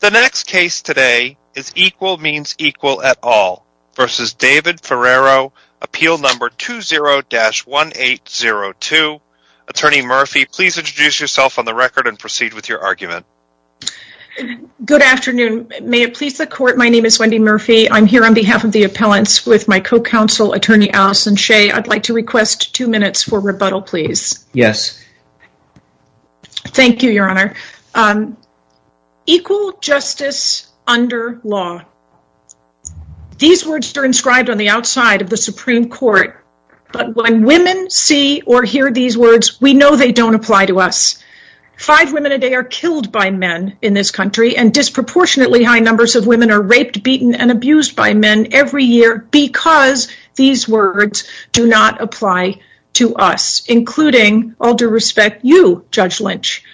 The next case today is Equal Means Equal at All v. David Ferriero, Appeal No. 20-1802. Attorney Murphy, please introduce yourself on the record and proceed with your argument. Good afternoon. May it please the Court, my name is Wendy Murphy. I'm here on behalf of the appellants with my co-counsel, Attorney Allison Shea. I'd like to request two minutes for rebuttal, please. Yes. Thank you, Your Honor. Equal justice under law. These words are inscribed on the outside of the Supreme Court, but when women see or hear these words, we know they don't apply to us. Five women a day are killed by men in this country, and disproportionately high numbers of women are raped, beaten, and abused by men every year because these words do not apply to us, including, all due respect, you, Judge Lynch.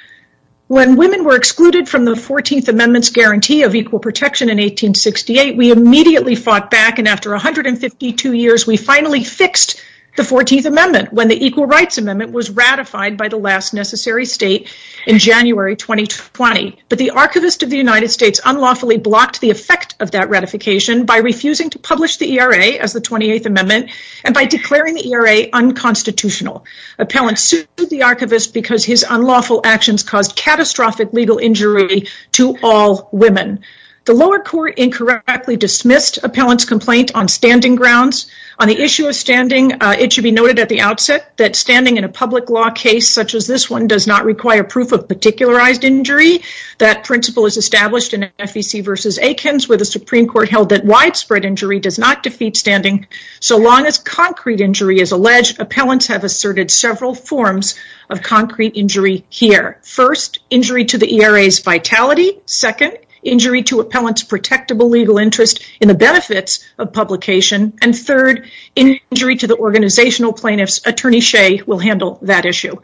When women were excluded from the 14th Amendment's guarantee of equal protection in 1868, we immediately fought back, and after 152 years, we finally fixed the 14th Amendment when the Equal Rights Amendment was ratified by the last necessary state in January 2020. But the Archivist of the United States unlawfully blocked the effect of that ratification by refusing to publish the ERA as the 28th Amendment, and by declaring the ERA unconstitutional. Appellants sued the Archivist because his unlawful actions caused catastrophic legal injury to all women. The lower court incorrectly dismissed appellants' complaint on standing grounds. On the issue of standing, it should be noted at the outset that standing in a public law case such as this one does not require proof of particularized injury. That principle is established in FEC v. Aikens, where the Supreme Court held that widespread injury does not defeat standing. So long as concrete injury is alleged, appellants have asserted several forms of concrete injury here. First, injury to the ERA's vitality. Second, injury to appellants' protectable legal interest in the benefits of publication. And third, injury to the organizational plaintiffs. Attorney Shea will handle that issue.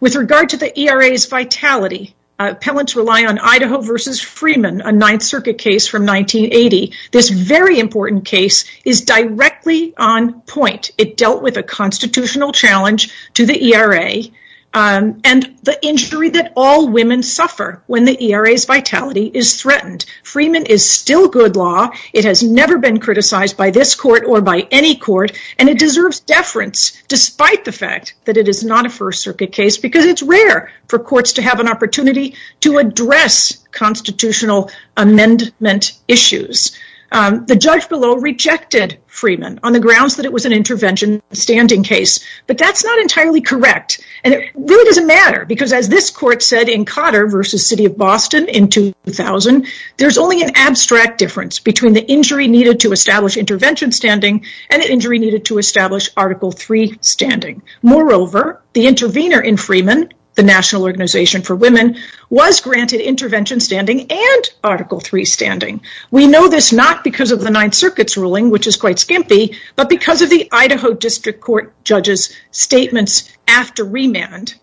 With regard to the ERA's vitality, appellants rely on Idaho v. Freeman, a Ninth Circuit case from 1980. This very important case is directly on point. It dealt with a constitutional challenge to the ERA, and the injury that all women suffer when the ERA's vitality is threatened. Freeman is still good law. It has never been criticized by this court or by any court, and it deserves deference, despite the fact that it is not a First Circuit case, because it's rare for courts to have an opportunity to address constitutional amendment issues. The judge below rejected Freeman on the grounds that it was an intervention standing case, but that's not entirely correct, and it really doesn't matter, because as this court said in Cotter v. City of Boston in 2000, there's only an abstract difference between the injury needed to establish intervention standing and the injury needed to establish Article III standing. Moreover, the intervener in Freeman, the National Organization for Women, was granted intervention standing and Article III standing. We know this not because of the Ninth Circuit's ruling, which is quite skimpy, but because of the Idaho District Court judge's statements after remand.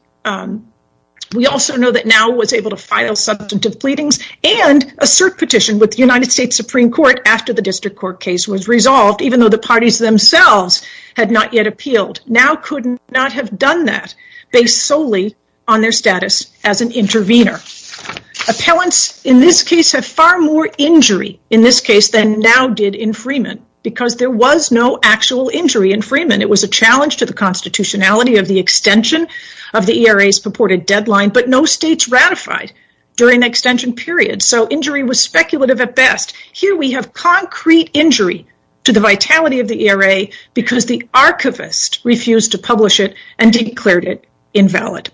We also know that Now was able to file substantive pleadings and assert petition with the United States Supreme Court after the District Court case was resolved, even though the parties themselves had not yet appealed. Now could not have done that, based solely on their status as an intervener. Appellants in this case have far more injury in this case than Now did in Freeman, because there was no actual injury in Freeman. It was a challenge to the constitutionality of the extension of the ERA's purported deadline, but no states ratified during the extension period, so injury was speculative at best. Here we have concrete injury to the vitality of the ERA, because the archivist refused to publish it and declared it invalid.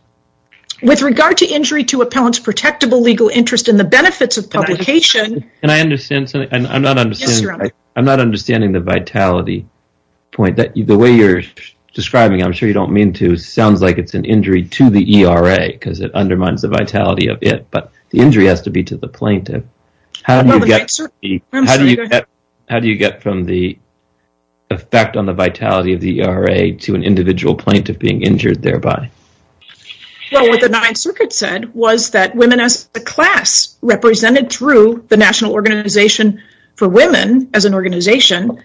With regard to injury to appellants' protectable legal interest in the benefits of publication... Can I understand something? I'm not understanding the vitality point. The way you're describing it, I'm sure you don't mean to, sounds like it's an injury to the ERA, because it undermines the vitality of it, but the injury has to be to the plaintiff. How do you get from the effect on the vitality of the ERA to an individual plaintiff being injured thereby? What the Ninth Circuit said was that women as a class, represented through the National Organization for Women as an organization,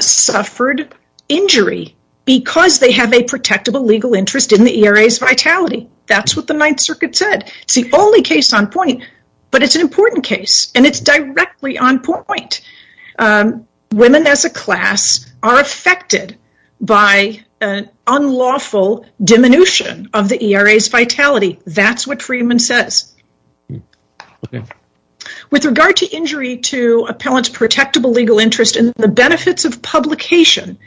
suffered injury because they have a protectable legal interest in the ERA's vitality. That's what the Ninth Circuit said. It's the only case on point, but it's an important case, and it's directly on point. Women as a class are affected by an unlawful diminution of the ERA's vitality. That's what Freeman says. With regard to injury to appellants' protectable legal interest in the benefits of publication,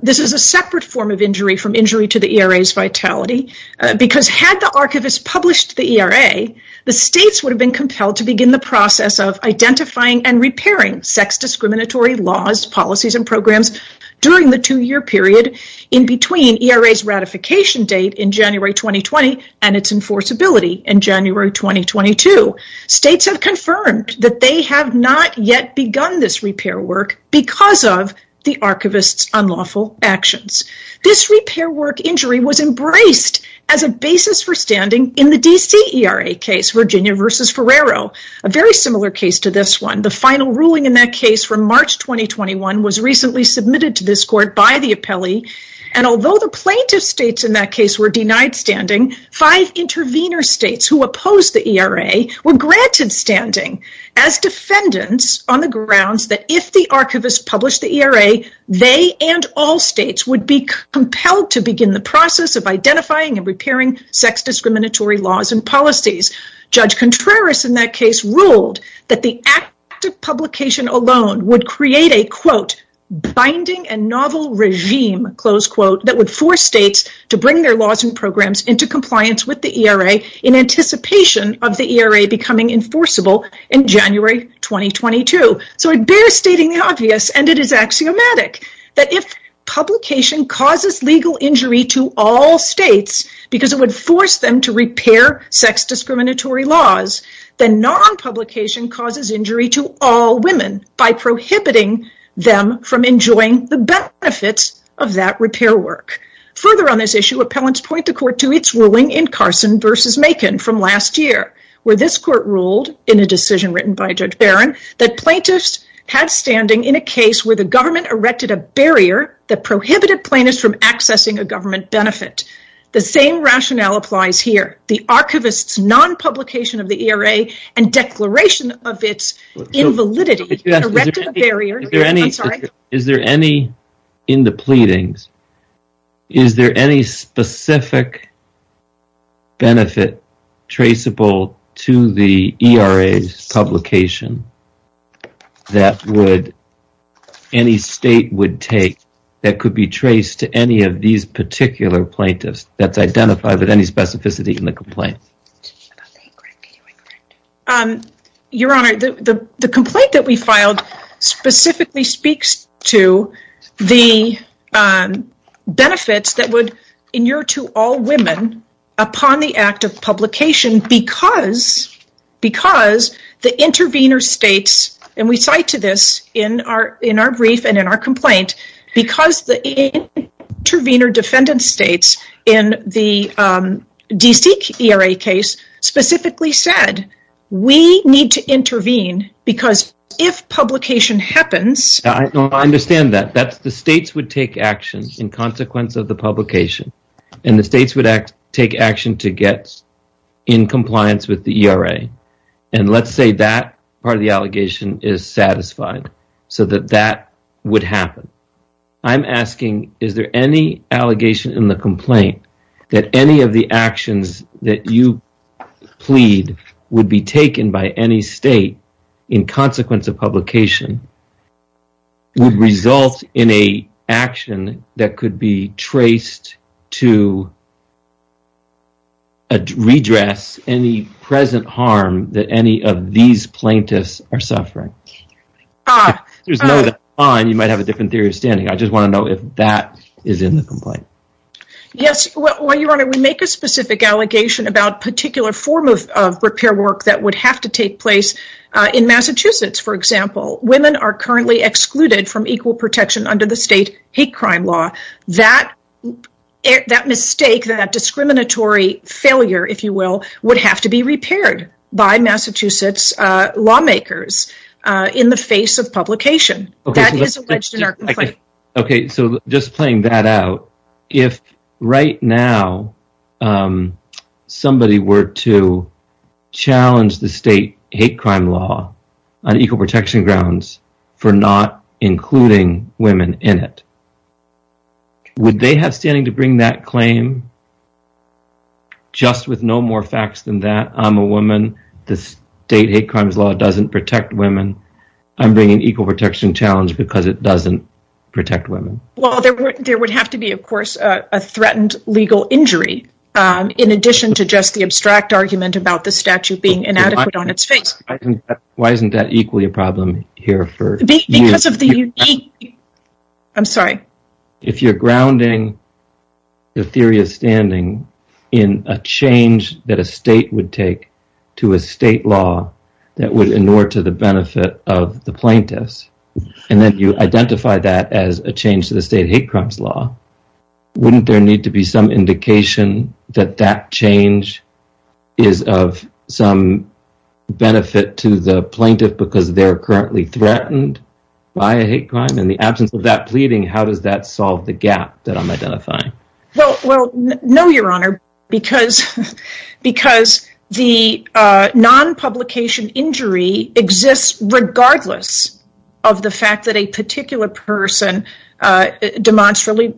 this is a separate form of injury from injury to the ERA's vitality, because had the archivist published the ERA, the states would have been compelled to begin the process of identifying and repairing sex discriminatory laws, policies, and programs during the two-year period in between ERA's ratification date in January 2020 and its enforceability in January 2022. States have confirmed that they have not yet begun this repair work because of the archivist's unlawful actions. This repair work injury was embraced as a basis for standing in the D.C. ERA case, Virginia v. Ferrero, a very similar case to this one. The final ruling in that case from March 2021 was recently submitted to this court by the appellee, and although the plaintiff states in that case were denied standing, five intervener states who opposed the ERA were granted standing as defendants on the grounds that if the archivist published the ERA, they and all states would be compelled to begin the process of identifying and repairing sex discriminatory laws and policies. Judge Contreras in that case ruled that the act of publication alone would create a quote, binding and novel regime, close quote, that would force states to bring their laws and programs into compliance with the ERA in anticipation of the ERA becoming enforceable in January 2022. So it bears stating the obvious, and it is axiomatic, that if publication causes legal injury to all states because it would force them to repair sex discriminatory laws, then non-publication causes injury to all women by prohibiting them from enjoying the benefits of that repair work. Further on this issue, appellants point the court to its ruling in Carson v. Macon from last year, where this court ruled in a decision written by Judge Barron that plaintiffs had standing in a case where the government erected a barrier that prohibited plaintiffs from accessing a government benefit. The same rationale applies here. The archivist's non-publication of the ERA and declaration of its invalidity Is there any, in the pleadings, is there any specific benefit traceable to the ERA's publication that any state would take that could be traced to any of these particular plaintiffs that's identified with any specificity in the complaint? Your Honor, the complaint that we filed specifically speaks to the benefits that would injure to all women upon the act of publication because the intervener states, and we cite to this in our brief and in our complaint, because the intervener defendant states in the D.C. ERA case specifically said, we need to intervene because if publication happens I understand that. The states would take action in consequence of the publication and the states would take action to get in compliance with the ERA and let's say that part of the allegation is satisfied so that that would happen. I'm asking, is there any allegation in the complaint that any of the actions that you plead would be taken by any state in consequence of publication would result in an action that could be traced to redress any present harm that any of these plaintiffs are suffering? If there's no that's fine, you might have a different theory of standing. I just want to know if that is in the complaint. Yes, Your Honor, we make a specific allegation about a particular form of repair work that would have to take place in Massachusetts, for example. Women are currently excluded from equal protection under the state hate crime law. That mistake, that discriminatory failure, if you will, would have to be repaired by Massachusetts lawmakers in the face of publication. That is alleged in our complaint. Okay, so just playing that out, if right now somebody were to challenge the state hate crime law on equal protection grounds for not including women in it, would they have standing to bring that claim? Just with no more facts than that? I'm a woman. The state hate crimes law doesn't protect women. I'm bringing equal protection challenge because it doesn't protect women. Well, there would have to be, of course, a threatened legal injury in addition to just the abstract argument about the statute being inadequate on its face. Why isn't that equally a problem here for you? Because of the unique... I'm sorry. If you're grounding the theory of standing in a change that a state would take to a state law that would inure to the benefit of the plaintiffs, and then you identify that as a change to the state hate crimes law, wouldn't there need to be some indication that that change is of some benefit to the plaintiff because they're currently threatened by a hate crime? In the absence of that pleading, how does that solve the gap that I'm identifying? Well, no, Your Honor, because the non-publication injury exists regardless of the fact that a particular person demonstrably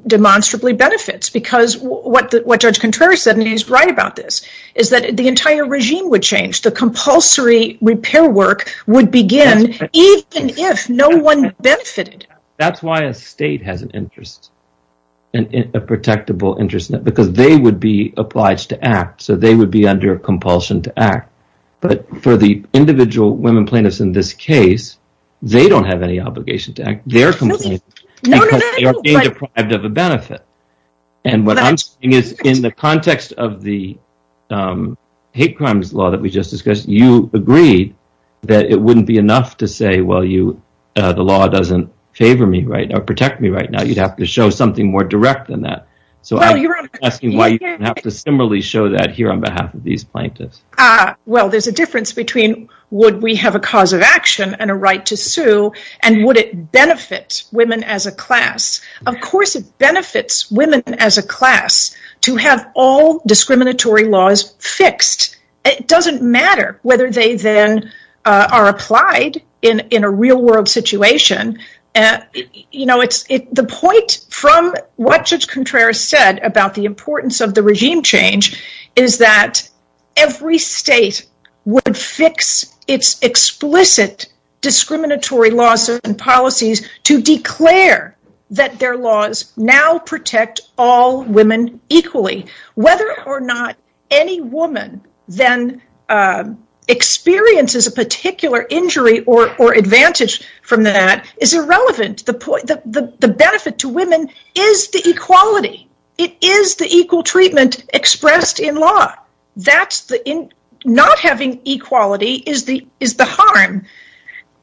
benefits because what Judge Contreras said, and he's right about this, is that the entire regime would change. The compulsory repair work would begin even if no one benefited. That's why a state has an interest, a protectable interest, because they would be obliged to act, so they would be under compulsion to act. But for the individual women plaintiffs in this case, they don't have any obligation to act. They're complaining because they're being deprived of a benefit. And what I'm saying is in the context of the hate crimes law that we just discussed, you agreed that it wouldn't be enough to say, well, the law doesn't favor me or protect me right now. You'd have to show something more direct than that. So I'm asking why you have to similarly show that here on behalf of these plaintiffs. Well, there's a difference between would we have a cause of action and a right to sue and would it benefit women as a class. Of course, it benefits women as a class to have all discriminatory laws fixed. It doesn't matter whether they then are applied in a real world situation. You know, the point from what Judge Contreras said about the importance of the regime change is that every state would fix its explicit discriminatory laws and policies to declare that their laws now protect all women equally. Whether or not any woman then experiences a particular injury or advantage from that is irrelevant. The benefit to women is the equality. It is the equal treatment expressed in law. Not having equality is the harm.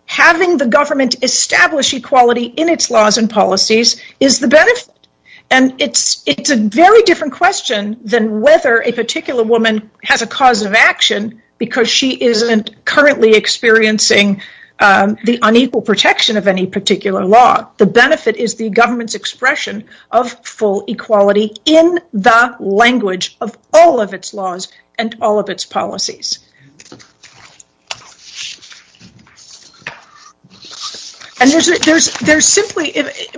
Having the government establish equality in its laws and policies is the benefit. And it's a very different question than whether a particular woman has a cause of action because she isn't currently experiencing the unequal protection of any particular law. The benefit is the government's expression of full equality in the language of all of its laws and all of its policies.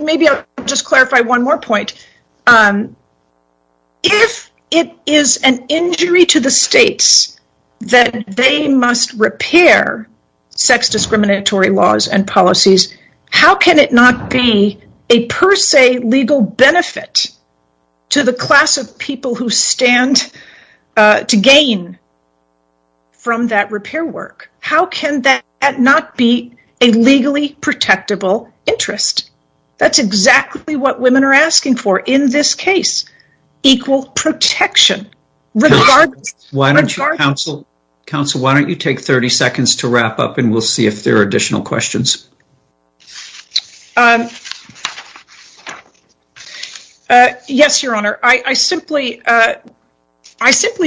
Maybe I'll just clarify one more point. If it is an injury to the states that they must repair sex discriminatory laws and policies, how can it not be a per se legal benefit to the class of people who stand to gain from that repair work? How can that not be a legally protectable interest? That's exactly what women are asking for in this case. Equal protection. Counsel, why don't you take 30 seconds to wrap up and we'll see if there are additional questions. Yes, Your Honor. I simply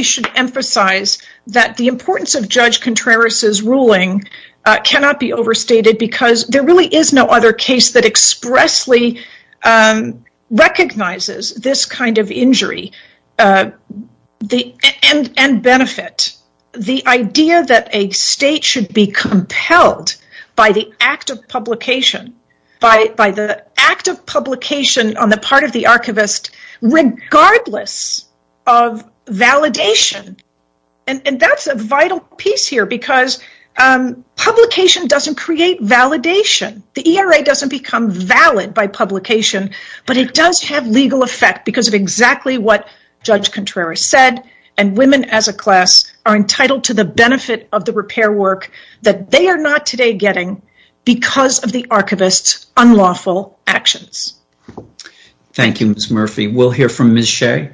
should emphasize that the importance of Judge Contreras' ruling cannot be overstated because there really is no other case that expressly recognizes this kind of injury and benefit. The idea that a state should be compelled by the act of publication on the part of the archivist regardless of validation. That's a vital piece here because publication doesn't create validation. The ERA doesn't become valid by publication, but it does have legal effect because of exactly what Judge Contreras said. Women as a class are entitled to the benefit of the repair work that they are not today getting because of the archivist's unlawful actions. Thank you, Ms. Murphy. We'll hear from Ms. Shea.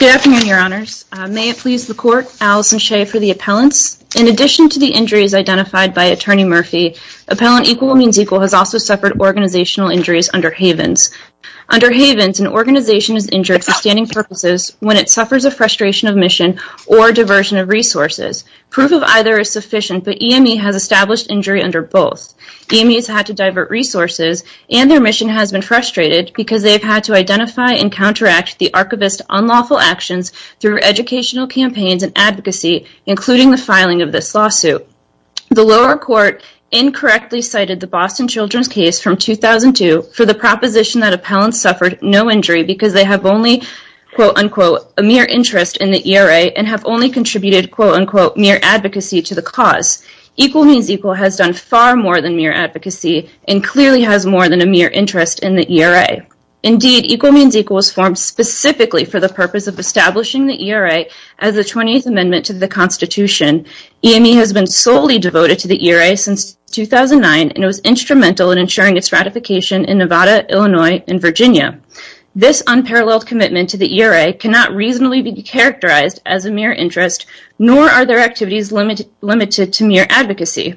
Good afternoon, Your Honors. May it please the Court, Allison Shea for the appellants. In addition to the injuries identified by Attorney Murphy, Appellant Equal Means Equal has also suffered organizational injuries under Havens. Under Havens, an organization is injured for standing purposes when it suffers a frustration of mission or diversion of resources. Proof of either is sufficient, but EME has established injury under both. EME has had to divert resources and their mission has been frustrated because they've had to identify and counteract the archivist's unlawful actions through educational campaigns and advocacy, including the filing of this lawsuit. The lower court incorrectly cited the Boston Children's case from 2002 for the proposition that appellants suffered no injury because they have only, quote-unquote, a mere interest in the ERA and have only contributed, quote-unquote, mere advocacy to the cause. Equal Means Equal has done far more than mere advocacy and clearly has more than a mere interest in the ERA. Indeed, Equal Means Equal was formed specifically for the purpose of establishing the ERA as the 20th Amendment to the Constitution. EME has been solely devoted to the ERA since 2009, and it was instrumental in ensuring its ratification in Nevada, Illinois, and Virginia. This unparalleled commitment to the ERA cannot reasonably be characterized as a mere interest, nor are their activities limited to mere advocacy.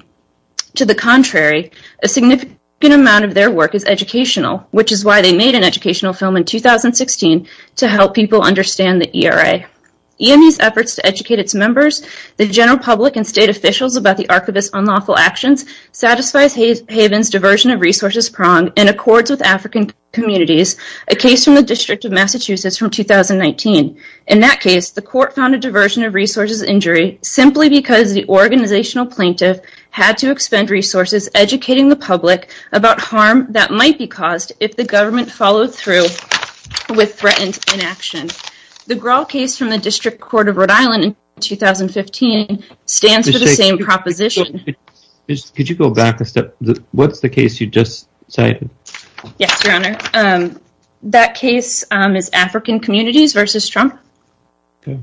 To the contrary, a significant amount of their work is educational, which is why they made an educational film in 2016 to help people understand the ERA. EME's efforts to educate its members, the general public, and state officials about the Archivist's unlawful actions satisfies Haven's diversion of resources prong and accords with African communities, a case from the District of Massachusetts from 2019. In that case, the court found a diversion of resources injury simply because the organizational plaintiff had to expend resources educating the public about harm that might be caused if the government followed through with threatened inaction. The Grahl case from the District Court of Rhode Island in 2015 stands for the same proposition. Could you go back a step? What's the case you just cited? Yes, Your Honor. That case is African Communities v. Trump. Okay.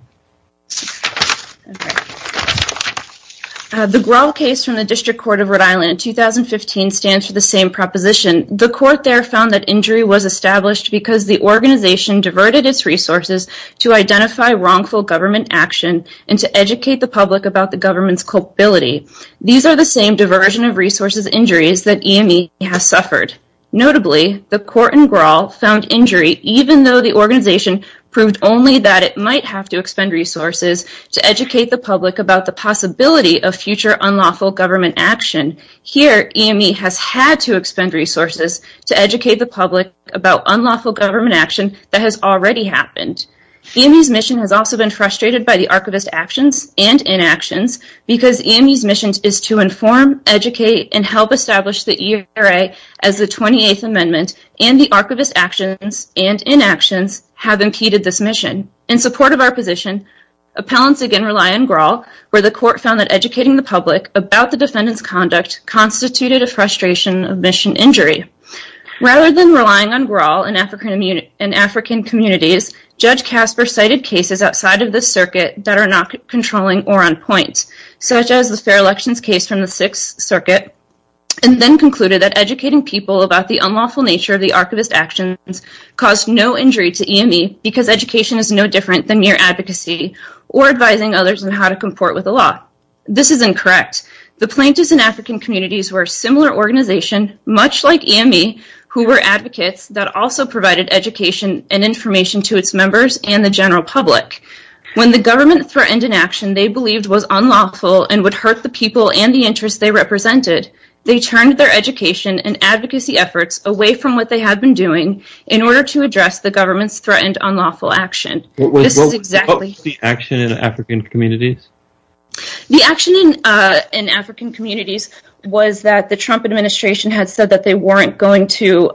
The Grahl case from the District Court of Rhode Island in 2015 stands for the same proposition. The court there found that injury was established because the organization diverted its resources to identify wrongful government action and to educate the public about the government's culpability. These are the same diversion of resources injuries that EME has suffered. Notably, the court in Grahl found injury even though the organization proved only that it might have to expend resources to educate the public about the possibility of future unlawful government action. Here, EME has had to expend resources to educate the public about unlawful government action that has already happened. EME's mission has also been frustrated by the archivist's actions and inactions because EME's mission is to inform, educate, and help establish the ERA as the 28th Amendment, and the archivist's actions and inactions have impeded this mission. In support of our position, appellants again rely on Grahl, where the court found that EME's misconduct constituted a frustration of mission injury. Rather than relying on Grahl in African communities, Judge Casper cited cases outside of the circuit that are not controlling or on point, such as the fair elections case from the Sixth Circuit, and then concluded that educating people about the unlawful nature of the archivist's actions caused no injury to EME because education is no different than mere advocacy or advising others on how to comport with the law. This is incorrect. The plaintiffs in African communities were a similar organization, much like EME, who were advocates that also provided education and information to its members and the general public. When the government threatened an action they believed was unlawful and would hurt the people and the interests they represented, they turned their education and advocacy efforts away from what they had been doing in order to address the government's threatened unlawful action. What was the action in African communities? The action in African communities was that the Trump administration had said that they weren't going to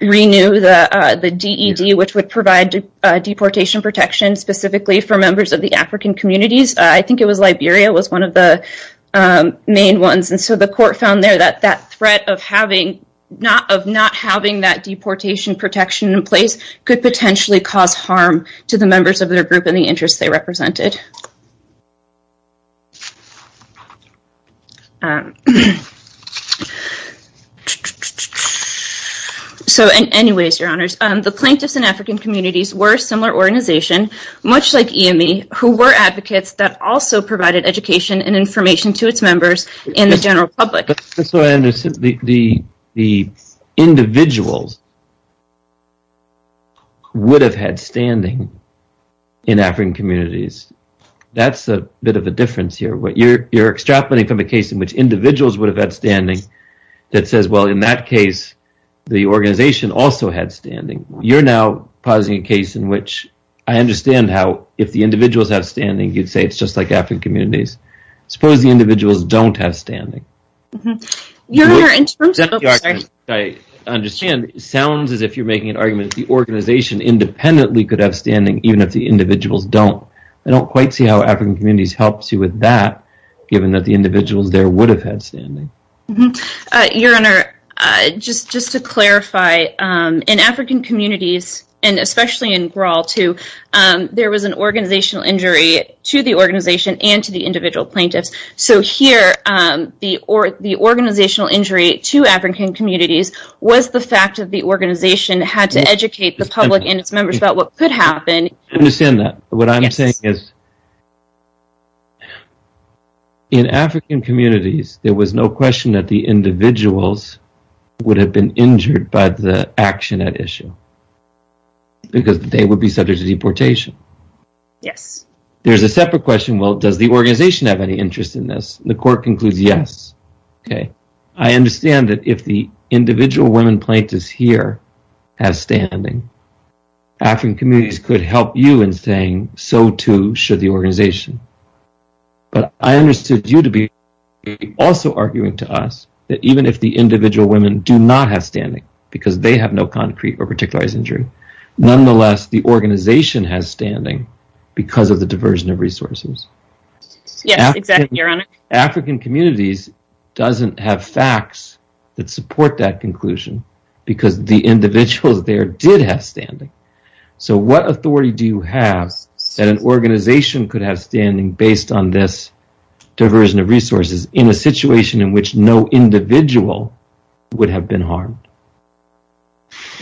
renew the DED, which would provide deportation protection specifically for members of the African communities. I think it was Liberia was one of the main ones, and so the court found there that that threat of not having that deportation protection in place could potentially cause harm to the members of their group and the interests they represented. So anyways, your honors, the plaintiffs in African communities were a similar organization, much like EME, who were advocates that also provided education and information to its members and the general public. The individuals would have had standing in African communities. That's a bit of a difference here. You're extrapolating from a case in which individuals would have had standing that says, well, in that case, the organization also had standing. You're now pausing a case in which I understand how if the individuals have standing, you'd say it's just like African communities. Suppose the individuals don't have standing. Your honor, it sounds as if you're making an argument that the organization independently could have standing even if the individuals don't. I don't quite see how African communities helps you with that, given that the individuals there would have had standing. Your honor, just to clarify, in African communities, and especially in Graal too, there was an organizational injury to the organization and to the individual plaintiffs. Here, the organizational injury to African communities was the fact that the organization had to educate the public and its members about what could happen. I understand that. What I'm saying is in African communities, there was no question that the individuals would have been injured by the action at issue because they would be subject to deportation. There's a separate question, well, does the organization have any interest in this? The court concludes, yes. I understand that if the individual women plaintiffs here have standing, African communities could help you in saying so too should the organization. I understood you to be also arguing to us that even if the individual women do not have standing because they have no concrete or particular injury, nonetheless, the organization has standing because of the diversion of resources. Yes, exactly, your honor. African communities doesn't have facts that support that conclusion because the individuals there did have standing. What authority do you have that an organization could have standing based on this diversion of resources in a situation in which no individual would have been harmed?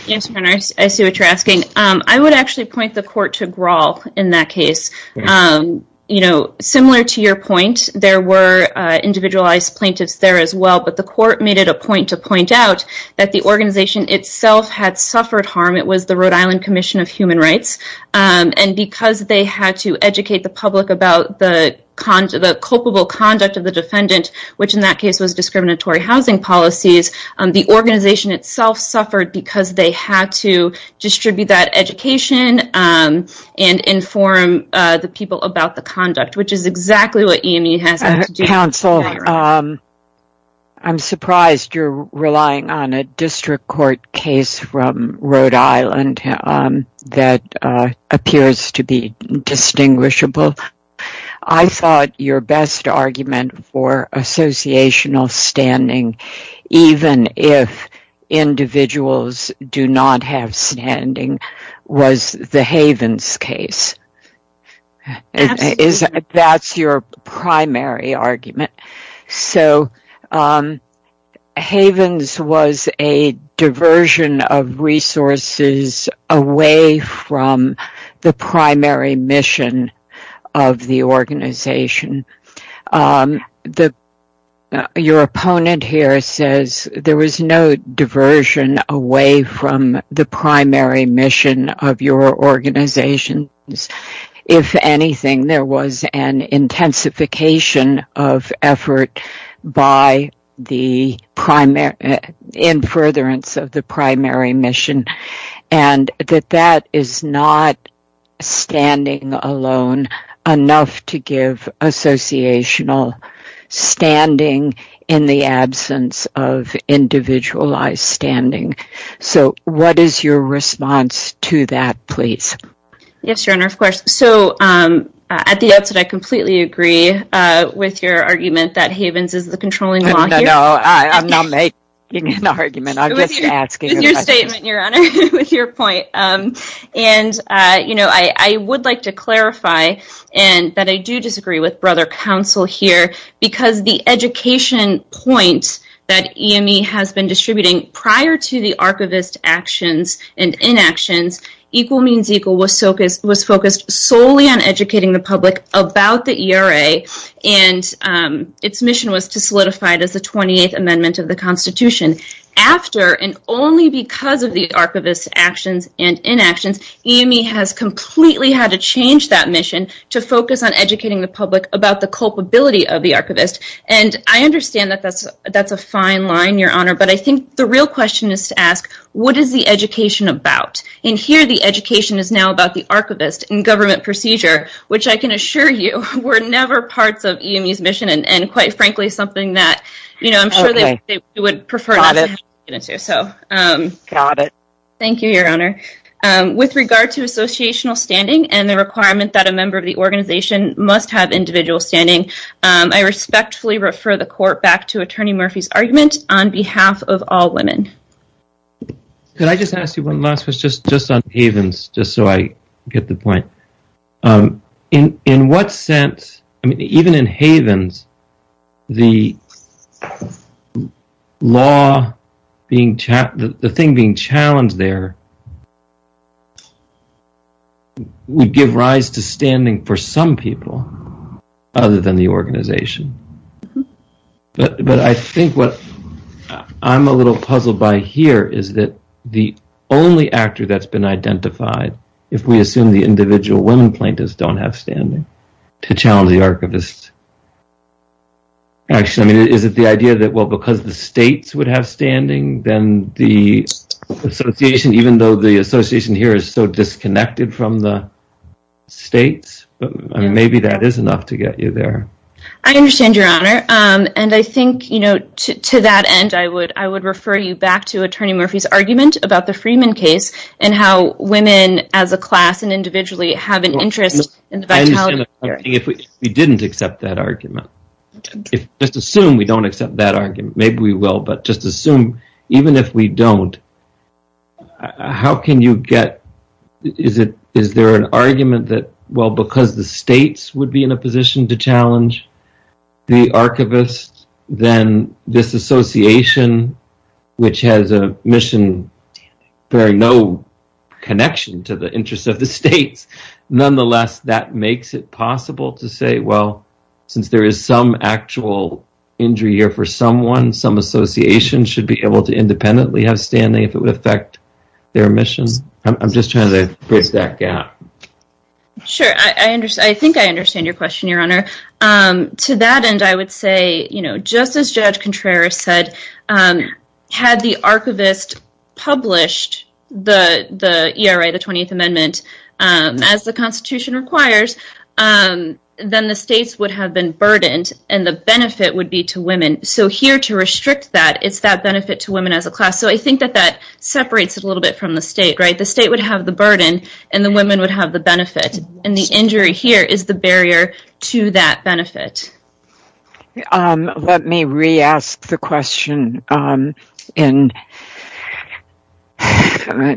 Yes, your honor, I see what you're asking. I would actually point the court to Grawl in that case. Similar to your point, there were individualized plaintiffs there as well, but the court made it a point to point out that the organization itself had suffered harm. It was the Rhode Island Commission of Human Rights. Because they had to educate the public about the culpable conduct of the defendant, which in that case was discriminatory housing policies, the organization itself suffered because they had to distribute that education and inform the people about the conduct, which is exactly what EME has to do. Counsel, I'm surprised you're relying on a district court case from Rhode Island that appears to be distinguishable. I thought your best argument for associational standing, even if individuals do not have standing, was the Havens case. That's your primary argument. Havens was a diversion of resources away from the primary mission of the organization. Your opponent here says there was no diversion away from the primary mission of your organization. If anything, there was an intensification of effort by the in furtherance of the primary mission. That is not standing alone enough to give associational standing in the absence of individualized standing. What is your response to that, please? Yes, Your Honor, of course. I completely agree with your argument that Havens is the controlling law here. I'm not making an argument, I'm just asking a question. With your statement, Your Honor. With your point. I would like to clarify that I do disagree with Brother Counsel here because the education point that EME has been distributing prior to the archivist actions and inactions, Equal Means Equal was focused solely on educating the public about the ERA and its mission was to solidify it as the 28th Amendment of the Constitution. After and only because of the archivist actions and inactions, EME has completely had to change that mission to focus on educating the public about the culpability of the archivist. I understand that that's a fine line, Your Honor, but I think the real question is to ask, what is the education about? Here, the education is now about the archivist and government procedure, which I can assure you were never part of EME's mission and quite frankly something that I'm sure they would prefer not to get into. Thank you, Your Honor. With regard to associational standing and the requirement that a member of the organization must have individual standing, I respectfully refer the Court back to Attorney Murphy's argument on behalf of all women. Could I just ask you one last question, just on Havens, just so I get the point. In what sense, even in Havens, the law being challenged, the thing being challenged there would give rise to standing for some people other than the organization. But I think what I'm a little puzzled by here is that the only actor that's been identified if we assume the individual women plaintiffs don't have standing to actually, is it the idea that because the states would have standing then the association, even though the association here is so disconnected from the states, maybe that is enough to get you there. I understand, Your Honor. And I think to that end, I would refer you back to Attorney Murphy's argument about the Freeman case and how women as a class and individually have an interest in the vitality of the case. If we didn't accept that argument, just assume we don't accept that argument, maybe we will, but just assume, even if we don't, how can you get, is there an argument that, well, because the states would be in a position to challenge the archivist, then this association, which has a mission bearing no connection to the interests of the states, nonetheless, that makes it possible to say, well, since there is some actual injury here for someone, some association should be able to independently have standing if it would affect their mission. I'm just trying to bridge that gap. Sure, I think I understand your question, Your Honor. To that end, I would say, just as Judge Contreras said, had the archivist published the 20th Amendment as the Constitution requires, then the states would have been burdened and the benefit would be to women, so here to restrict that, it's that benefit to women as a class, so I think that that separates it a little bit from the state. The state would have the burden and the women would have the benefit, and the injury here is the barrier to that benefit. Let me re-ask the question in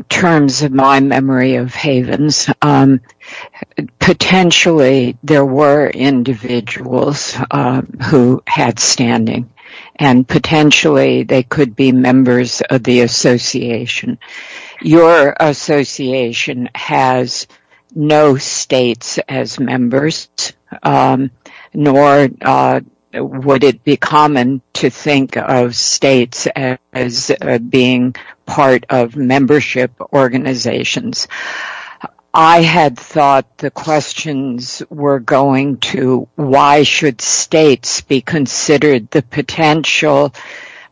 terms of my memory of Havens. Potentially, there were individuals who had standing, and potentially they could be members of the association. Your association has no states as members, nor would it be common to think of states as being part of membership organizations. I had thought the questions were going to why should states be considered the potential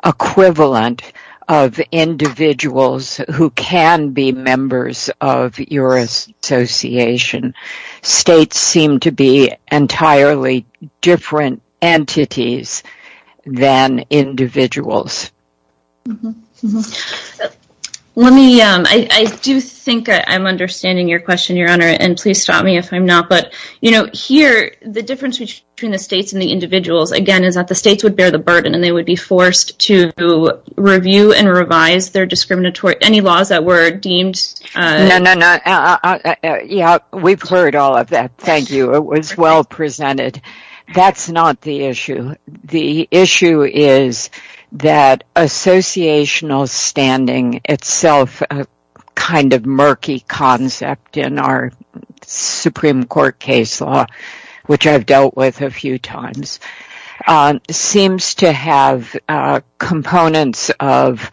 equivalent of individuals who can be members of your association. States seem to be entirely different entities than individuals. I do think I'm understanding your question, Your Honor, and please stop me if I'm not, but here the difference between the states and the individuals, again, is that the states would bear the burden and they would be forced to review and revise their discriminatory laws that were deemed... We've heard all of that, thank you. It was well presented. That's not the issue. The issue is that associational standing itself a kind of murky concept in our Supreme Court case law, which I've dealt with a few times, seems to have components of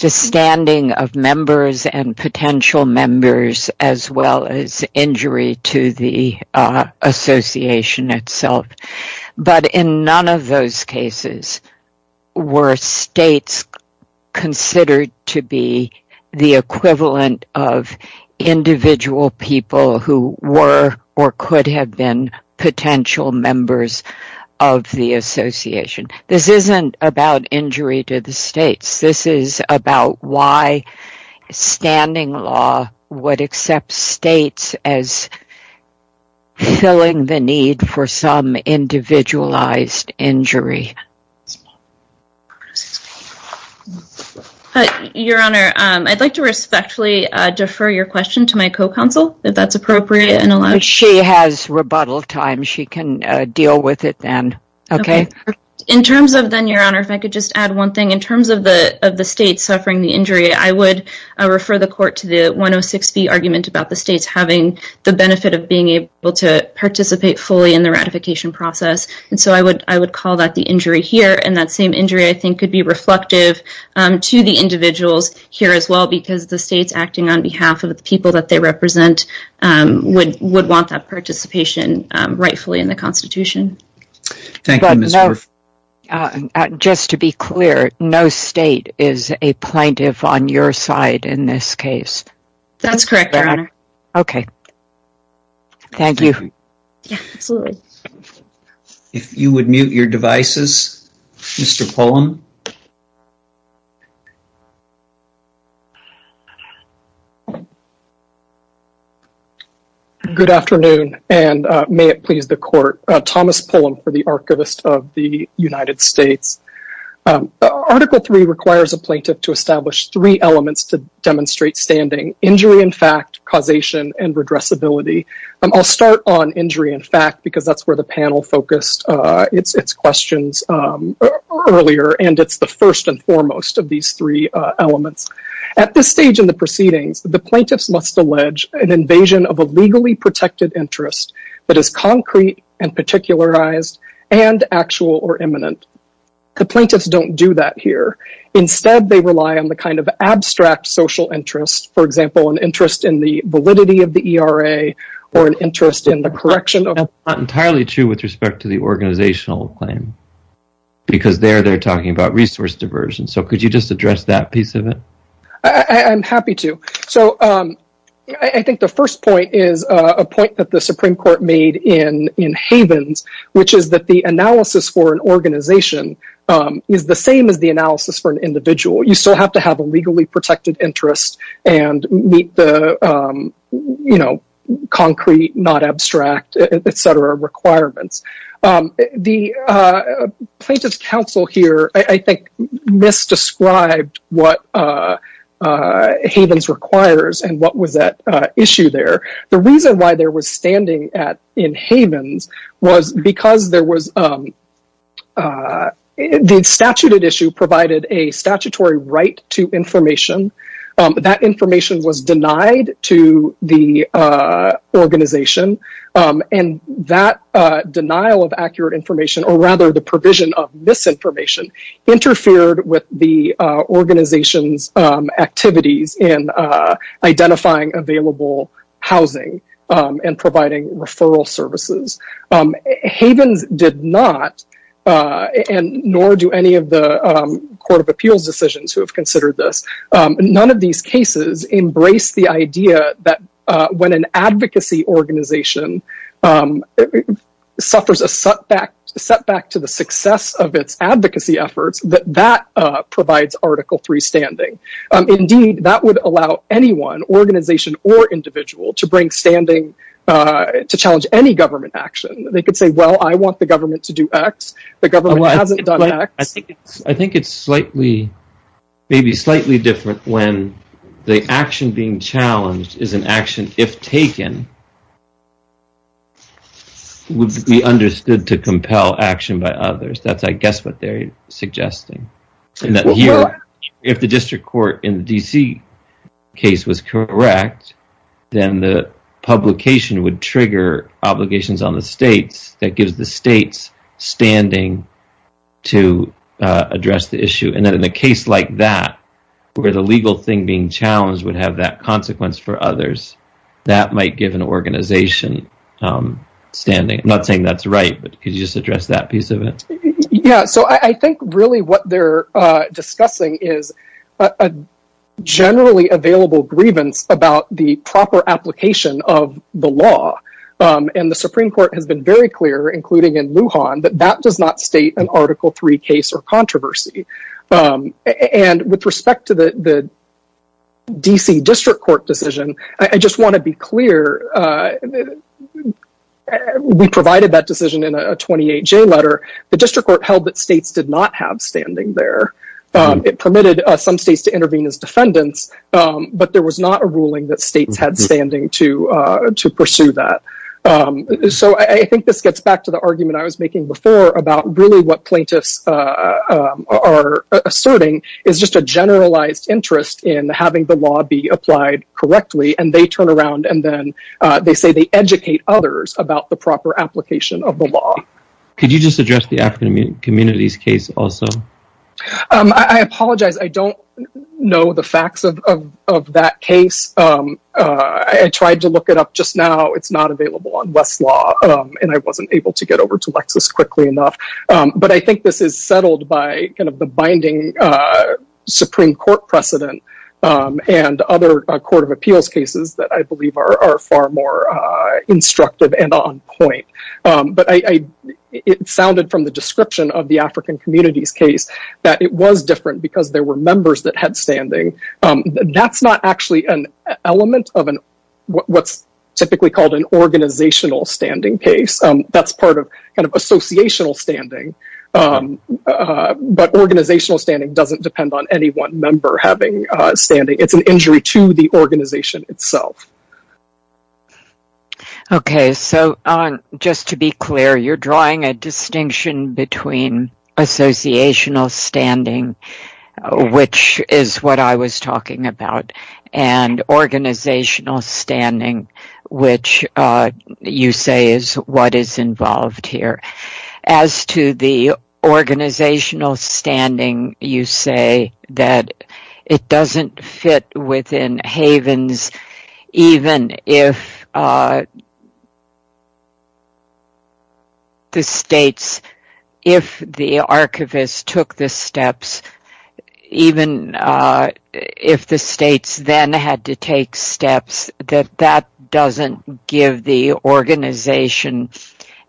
the standing of members and potential members as well as injury to the association itself. But in none of those cases were states considered to be the equivalent of individual people who were or could have been potential members of the association. This isn't about injury to the states. This is about why standing law would accept states as filling the need for some individualized injury. Your Honor, I'd like to respectfully defer your question to my co-counsel, if that's appropriate. She has rebuttal time. She can deal with it then. In terms of then, Your Honor, if I could just add one thing. In terms of the states suffering the injury, I would refer the Court to the 106B argument about the states having the benefit of being able to participate fully in the ratification process. And so I would call that the injury here. And that same injury, I think, could be reflective to the individuals here as well, because the states acting on behalf of the people that they represent would want that participation rightfully in the Constitution. Thank you, Ms. Hurff. Just to be clear, no state is a plaintiff on your side in this case? That's correct, Your Honor. Thank you. If you would mute your devices, Mr. Pullum. Good afternoon, and may it please the Court. Thomas Pullum for the Archivist of the United States. Article III requires a plaintiff to establish three elements to demonstrate standing. Injury in fact, causation, and redressability. I'll start on injury in fact, because that's where the panel focused its questions earlier. And it's the first and foremost of these three elements. At this stage in the proceedings, the plaintiffs must allege an invasion of a legally protected interest that is concrete and particularized and actual or imminent. The plaintiffs don't do that here. Instead, they rely on the kind of abstract social interest. For example, an interest in the validity of the ERA, or an interest in the correction of... That's not entirely true with respect to the organizational claim. Because there, they're talking about resource diversion. So could you just address that piece of it? I'm happy to. I think the first point is a point that the Supreme Court made in Havens, which is that the analysis for an organization is the same as the analysis for an individual. You still have to have a legally protected interest and meet the concrete, not abstract, etc. requirements. The plaintiff's counsel here I think misdescribed what Havens requires and what was at issue there. The reason why there was standing in Havens was because there was... The statute at issue provided a statutory right to information. That information was denied to the organization. And that denial of accurate information or rather the provision of misinformation interfered with the organization's activities in identifying available housing and providing referral services. Havens did not and nor do any of the Court of Appeals decisions who have considered this. None of these cases embrace the idea that when an advocacy organization suffers a setback to the success of its advocacy efforts, that that provides Article III standing. Indeed, that would allow anyone, organization or individual to challenge any government action. They could say, well, I want the government to do X. The government hasn't done X. I think it's maybe slightly different when the action being challenged is an action, if taken, would be understood to compel action by others. That's, I guess, what they're suggesting. If the district court in the D.C. case was correct, then the publication would trigger obligations on the states that gives the states standing to address the issue. In a case like that, where the legal thing being challenged would have that consequence for others, that might give an organization standing. I'm not saying that's right, but could you just address that piece of it? I think really what they're discussing is a generally available grievance about the proper application of the law. The Supreme Court has been very clear, including in Lujan, that that does not state an Article III case or controversy. With respect to the D.C. District Court decision, I just want to be clear we provided that decision in a 28-J letter. The District Court held that states did not have standing there. It permitted some states to intervene as defendants, but there was not a ruling that states had standing to pursue that. I think this gets back to the argument I was making before about really what plaintiffs are asserting is just a generalized interest in having the law be applied correctly, and they turn around and then they say they educate others about the proper application of the law. Could you just address the African communities case also? I apologize, I don't know the facts of that case. I tried to look it up just now, it's not available on Westlaw, and I wasn't able to get over to Lexis quickly enough. But I think this is settled by the binding Supreme Court precedent and other Court of Appeals cases that I believe are far more instructive and on point. It sounded from the description of the African communities case that it was different because there were members that had standing. That's not actually an element of what's typically called an organizational standing case. That's part of associational standing. But organizational standing doesn't depend on any one member having standing. It's an injury to the organization itself. Just to be clear, you're drawing a distinction between associational standing, which is what I was talking about, and organizational standing, which you say is what is involved here. As to the organizational standing, you say that it doesn't fit within havens, even if the states, if the archivist took the steps, even if the states then had to take steps, that that doesn't give the organization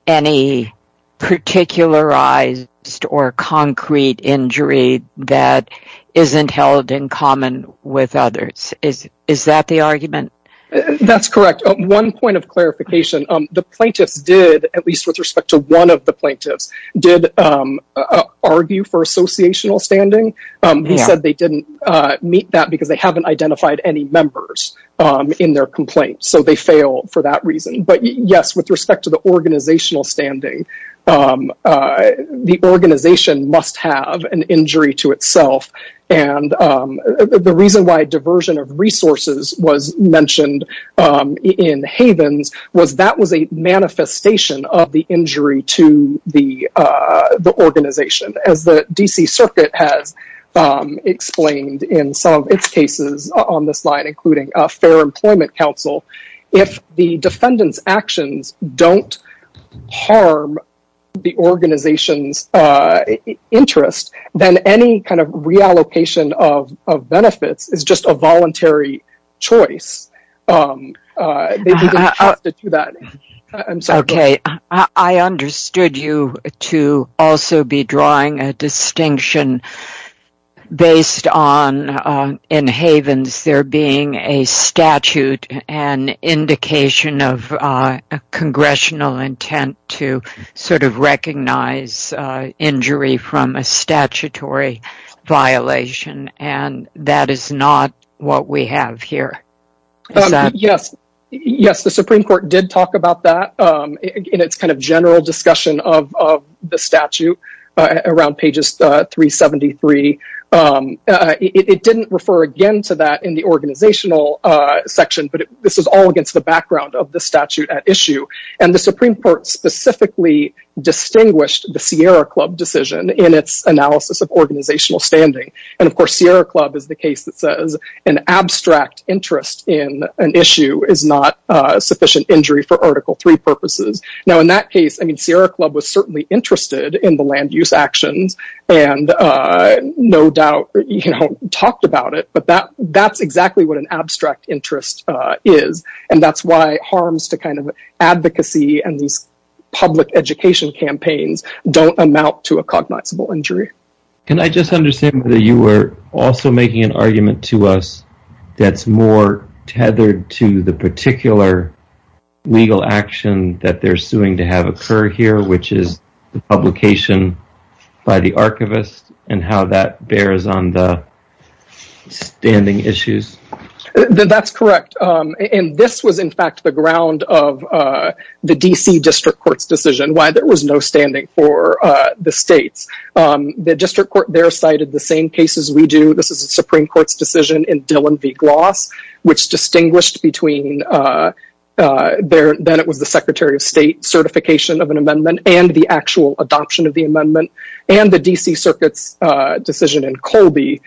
any particularized or concrete injury that with others. Is that the argument? That's correct. One point of clarification. The plaintiffs did, at least with respect to one of the plaintiffs, did argue for associational standing. He said they didn't meet that because they haven't identified any members in their complaint. So they failed for that reason. But yes, with respect to the organizational standing, the organization must have an injury to itself. The reason why diversion of resources was mentioned in havens was that was a manifestation of the injury to the organization. As the D.C. Circuit has explained in some of its cases on this line, including Fair Employment Council, if the defendant's actions don't harm the organization's interest, then any kind of reallocation of benefits is just a voluntary choice. I understood you to also be drawing a distinction based on, in havens, there being a statute, an indication of congressional intent to sort of recognize injury from a statutory violation and that is not what we have here. Yes, the Supreme Court did talk about that in its kind of general discussion of the statute around pages 373. It didn't refer again to that in the organizational section, but this is all against the background of the statute at issue. And the Supreme Court specifically distinguished the Sierra Club decision in its analysis of organizational standing. And of course, Sierra Club is the case that says an abstract interest in an issue is not sufficient injury for Article III purposes. Now in that case, I mean, Sierra Club was certainly interested in the land use actions and no doubt talked about it, but that's exactly what an abstract interest is. And that's why harms to kind of advocacy and these public education campaigns don't amount to a cognizable injury. Can I just understand whether you were also making an argument to us that's more tethered to the particular legal action that they're suing to have occur here, which is the publication by the archivist and how that bears on the standing issues? That's correct. And this was in fact the ground of the D.C. District Court's decision, why there was no standing for the states. The District Court there cited the same cases we do. This is a Supreme Court's decision in Dillon v. Gloss, which distinguished between then it was the Secretary of State certification of an amendment and the actual adoption of the amendment and the D.C. Circuit's decision in Colby,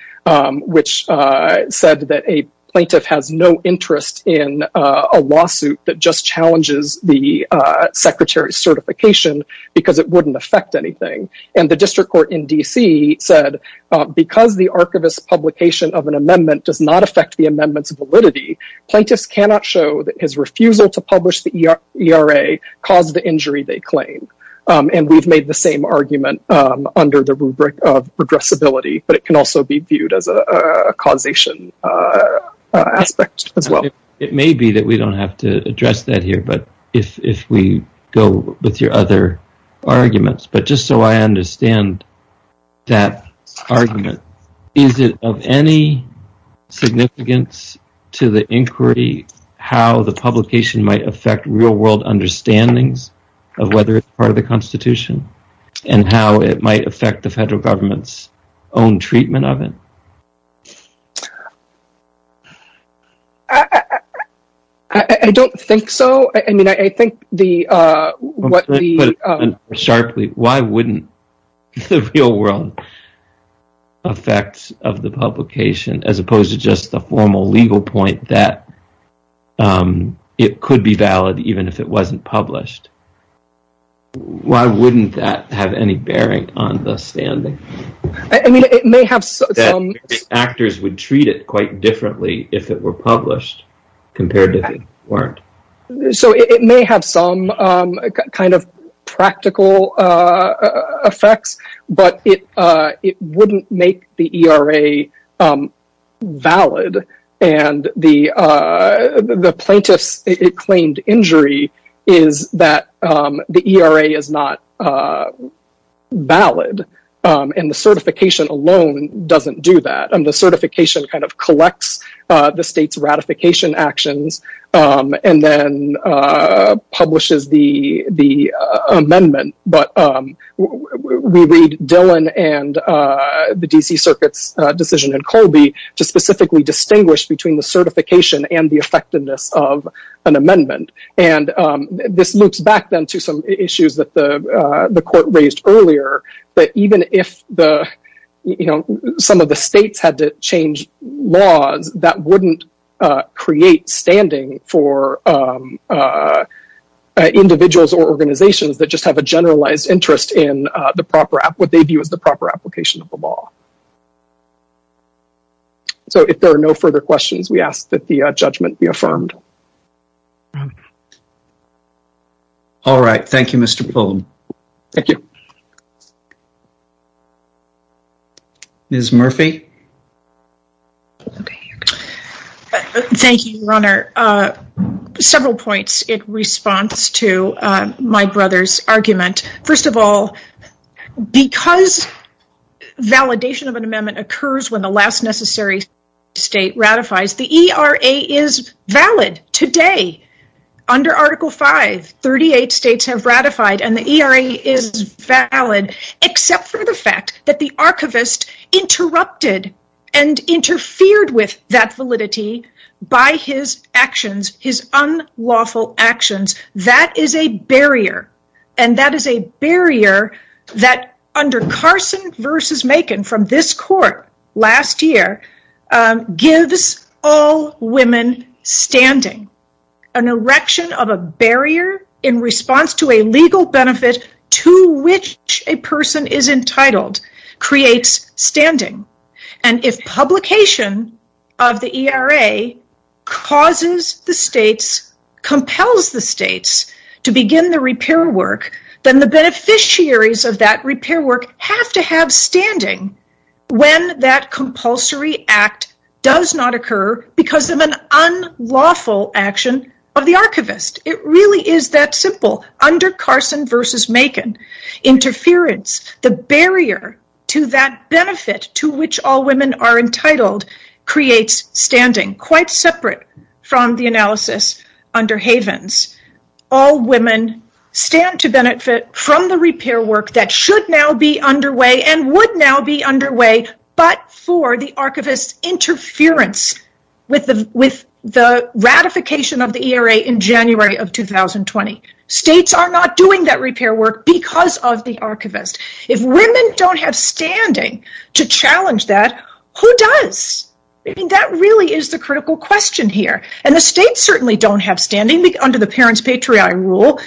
which said that a plaintiff has no right to a lawsuit that just challenges the Secretary's certification because it wouldn't affect anything. And the District Court in D.C. said because the archivist's publication of an amendment does not affect the amendment's validity, plaintiffs cannot show that his refusal to publish the ERA caused the injury they claim. And we've made the same argument under the rubric of regressibility, but it can also be viewed as a causation aspect as well. It may be that we don't have to address that here, but if we go with your other arguments, but just so I understand that argument, is it of any significance to the inquiry how the publication might affect real world understandings of whether it's part of the Constitution and how it might affect the federal government's own treatment of it? I don't think so. I mean, I think the Why wouldn't the real world affect the publication as opposed to just the formal legal point that it could be valid even if it wasn't published? Why wouldn't that have any bearing on the standing? Actors would treat it quite differently if it were published compared to if it weren't. So it may have some kind of practical effects, but it wouldn't make the ERA valid, and the plaintiff's claimed injury is that the ERA is not valid, and the certification alone doesn't do that. The certification kind of collects the state's ratification actions and then publishes the amendment, but we read Dillon and the DC Circuit's decision in Colby to specifically distinguish between the certification and the effectiveness of an amendment, and this loops back then to some issues that the court raised earlier, that even if some of the states had to change laws, that wouldn't create standing for individuals or organizations that just have a generalized interest in what they view as the proper application of the law. So if there are no further questions, we ask that the judgment be affirmed. All right. Thank you, Mr. Pullum. Ms. Murphy? Thank you, Your Honor. Several points in response to my brother's argument. First of all, because validation of an amendment occurs when the last necessary state ratifies, the ERA is valid today. Under Article V, 38 states have ratified, and the ERA is valid, except for the fact that the archivist interrupted and interfered with that validity by his actions, his unlawful actions. That is a barrier, and that is a barrier that under Carson v. Macon from this court last year gives all women standing. An erection of a barrier in response to a legal benefit to which a person is entitled creates standing, and if publication of the ERA causes the states, compels the states to begin the repair work, then the beneficiaries of that repair work have to have standing when that compulsory act does not occur because of an unlawful action of the archivist. It really is that simple. Under Carson v. Macon, interference, the barrier to that benefit to which all women are entitled creates standing. Quite separate from the analysis under Havens. All women stand to benefit from the repair work that should now be underway and would now be underway, but for the archivist's interference with the ratification of the ERA in January of 2020. States are not doing that repair work because of the archivist. If women don't have standing to challenge that, who does? I mean, that really is the critical question here, and the states certainly don't have standing under the parents-patriarch rule.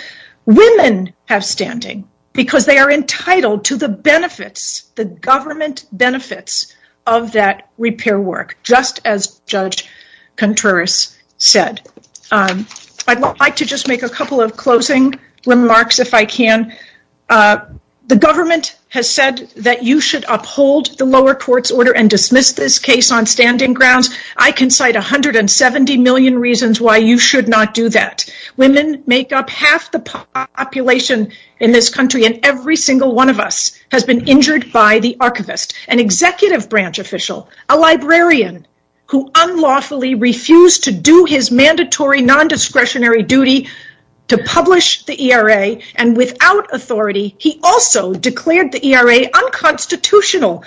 Women have standing because they are entitled to the benefits, the government benefits of that repair work, just as Judge Contreras said. I'd like to just make a couple of closing remarks if I can. The government has said that you should uphold the lower court's order and dismiss this case on standing grounds. I can cite 170 million reasons why you should not do that. Women make up half the population in this country, and every single one of us has been injured by the archivist. An executive branch official, a librarian who unlawfully refused to do his mandatory non-discretionary duty to publish the ERA, and without authority, he also declared the ERA unconstitutional.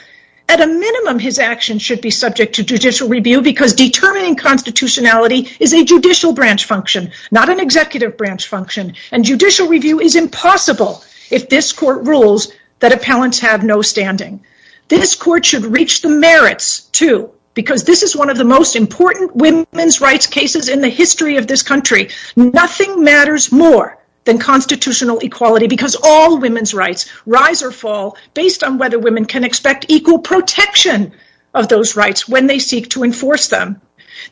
At a minimum, his actions should be subject to judicial review because determining constitutionality is a judicial branch function, not an executive branch function, and judicial review is impossible if this court rules that appellants have no standing. This court should reach the merits, too, because this is one of the most important women's rights cases in the history of this country. Nothing matters more than constitutional equality because all women's rights rise or fall based on whether women can expect equal protection of those rights when they seek to enforce them.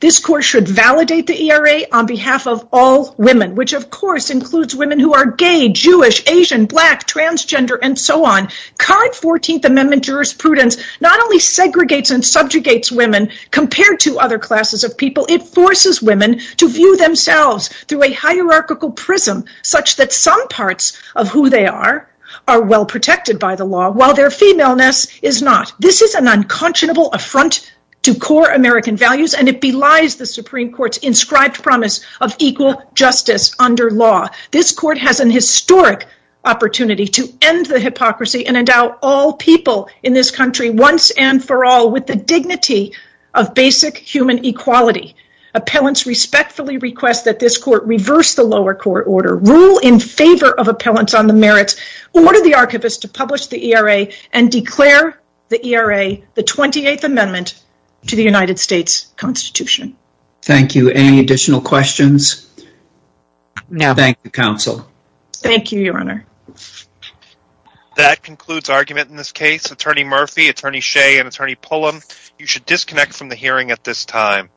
This court should validate the ERA on behalf of all women, which of course includes women who are gay, Jewish, Asian, black, transgender, and so on. Current 14th Amendment jurisprudence not only segregates and subjugates women compared to other classes of people, it forces women to view themselves through a hierarchical prism such that some parts of who they are are well protected by the law, while their femaleness is not. This is an unconscionable affront to core American values and it belies the Supreme Court's inscribed promise of equal justice under law. This court has an historic opportunity to end the hypocrisy and endow all people in this country once and for all with the dignity of basic human equality. Appellants respectfully request that this court reverse the lower court order, rule in favor of appellants on the merits, order the archivist to publish the ERA, and declare the ERA the 28th Amendment to the United States Constitution. Thank you. Any additional questions? No. Thank you, Counsel. Thank you, Your Honor. That concludes argument in this case. Attorney Murphy, Attorney Shea, and Attorney Pullum, you should disconnect from the hearing at this time.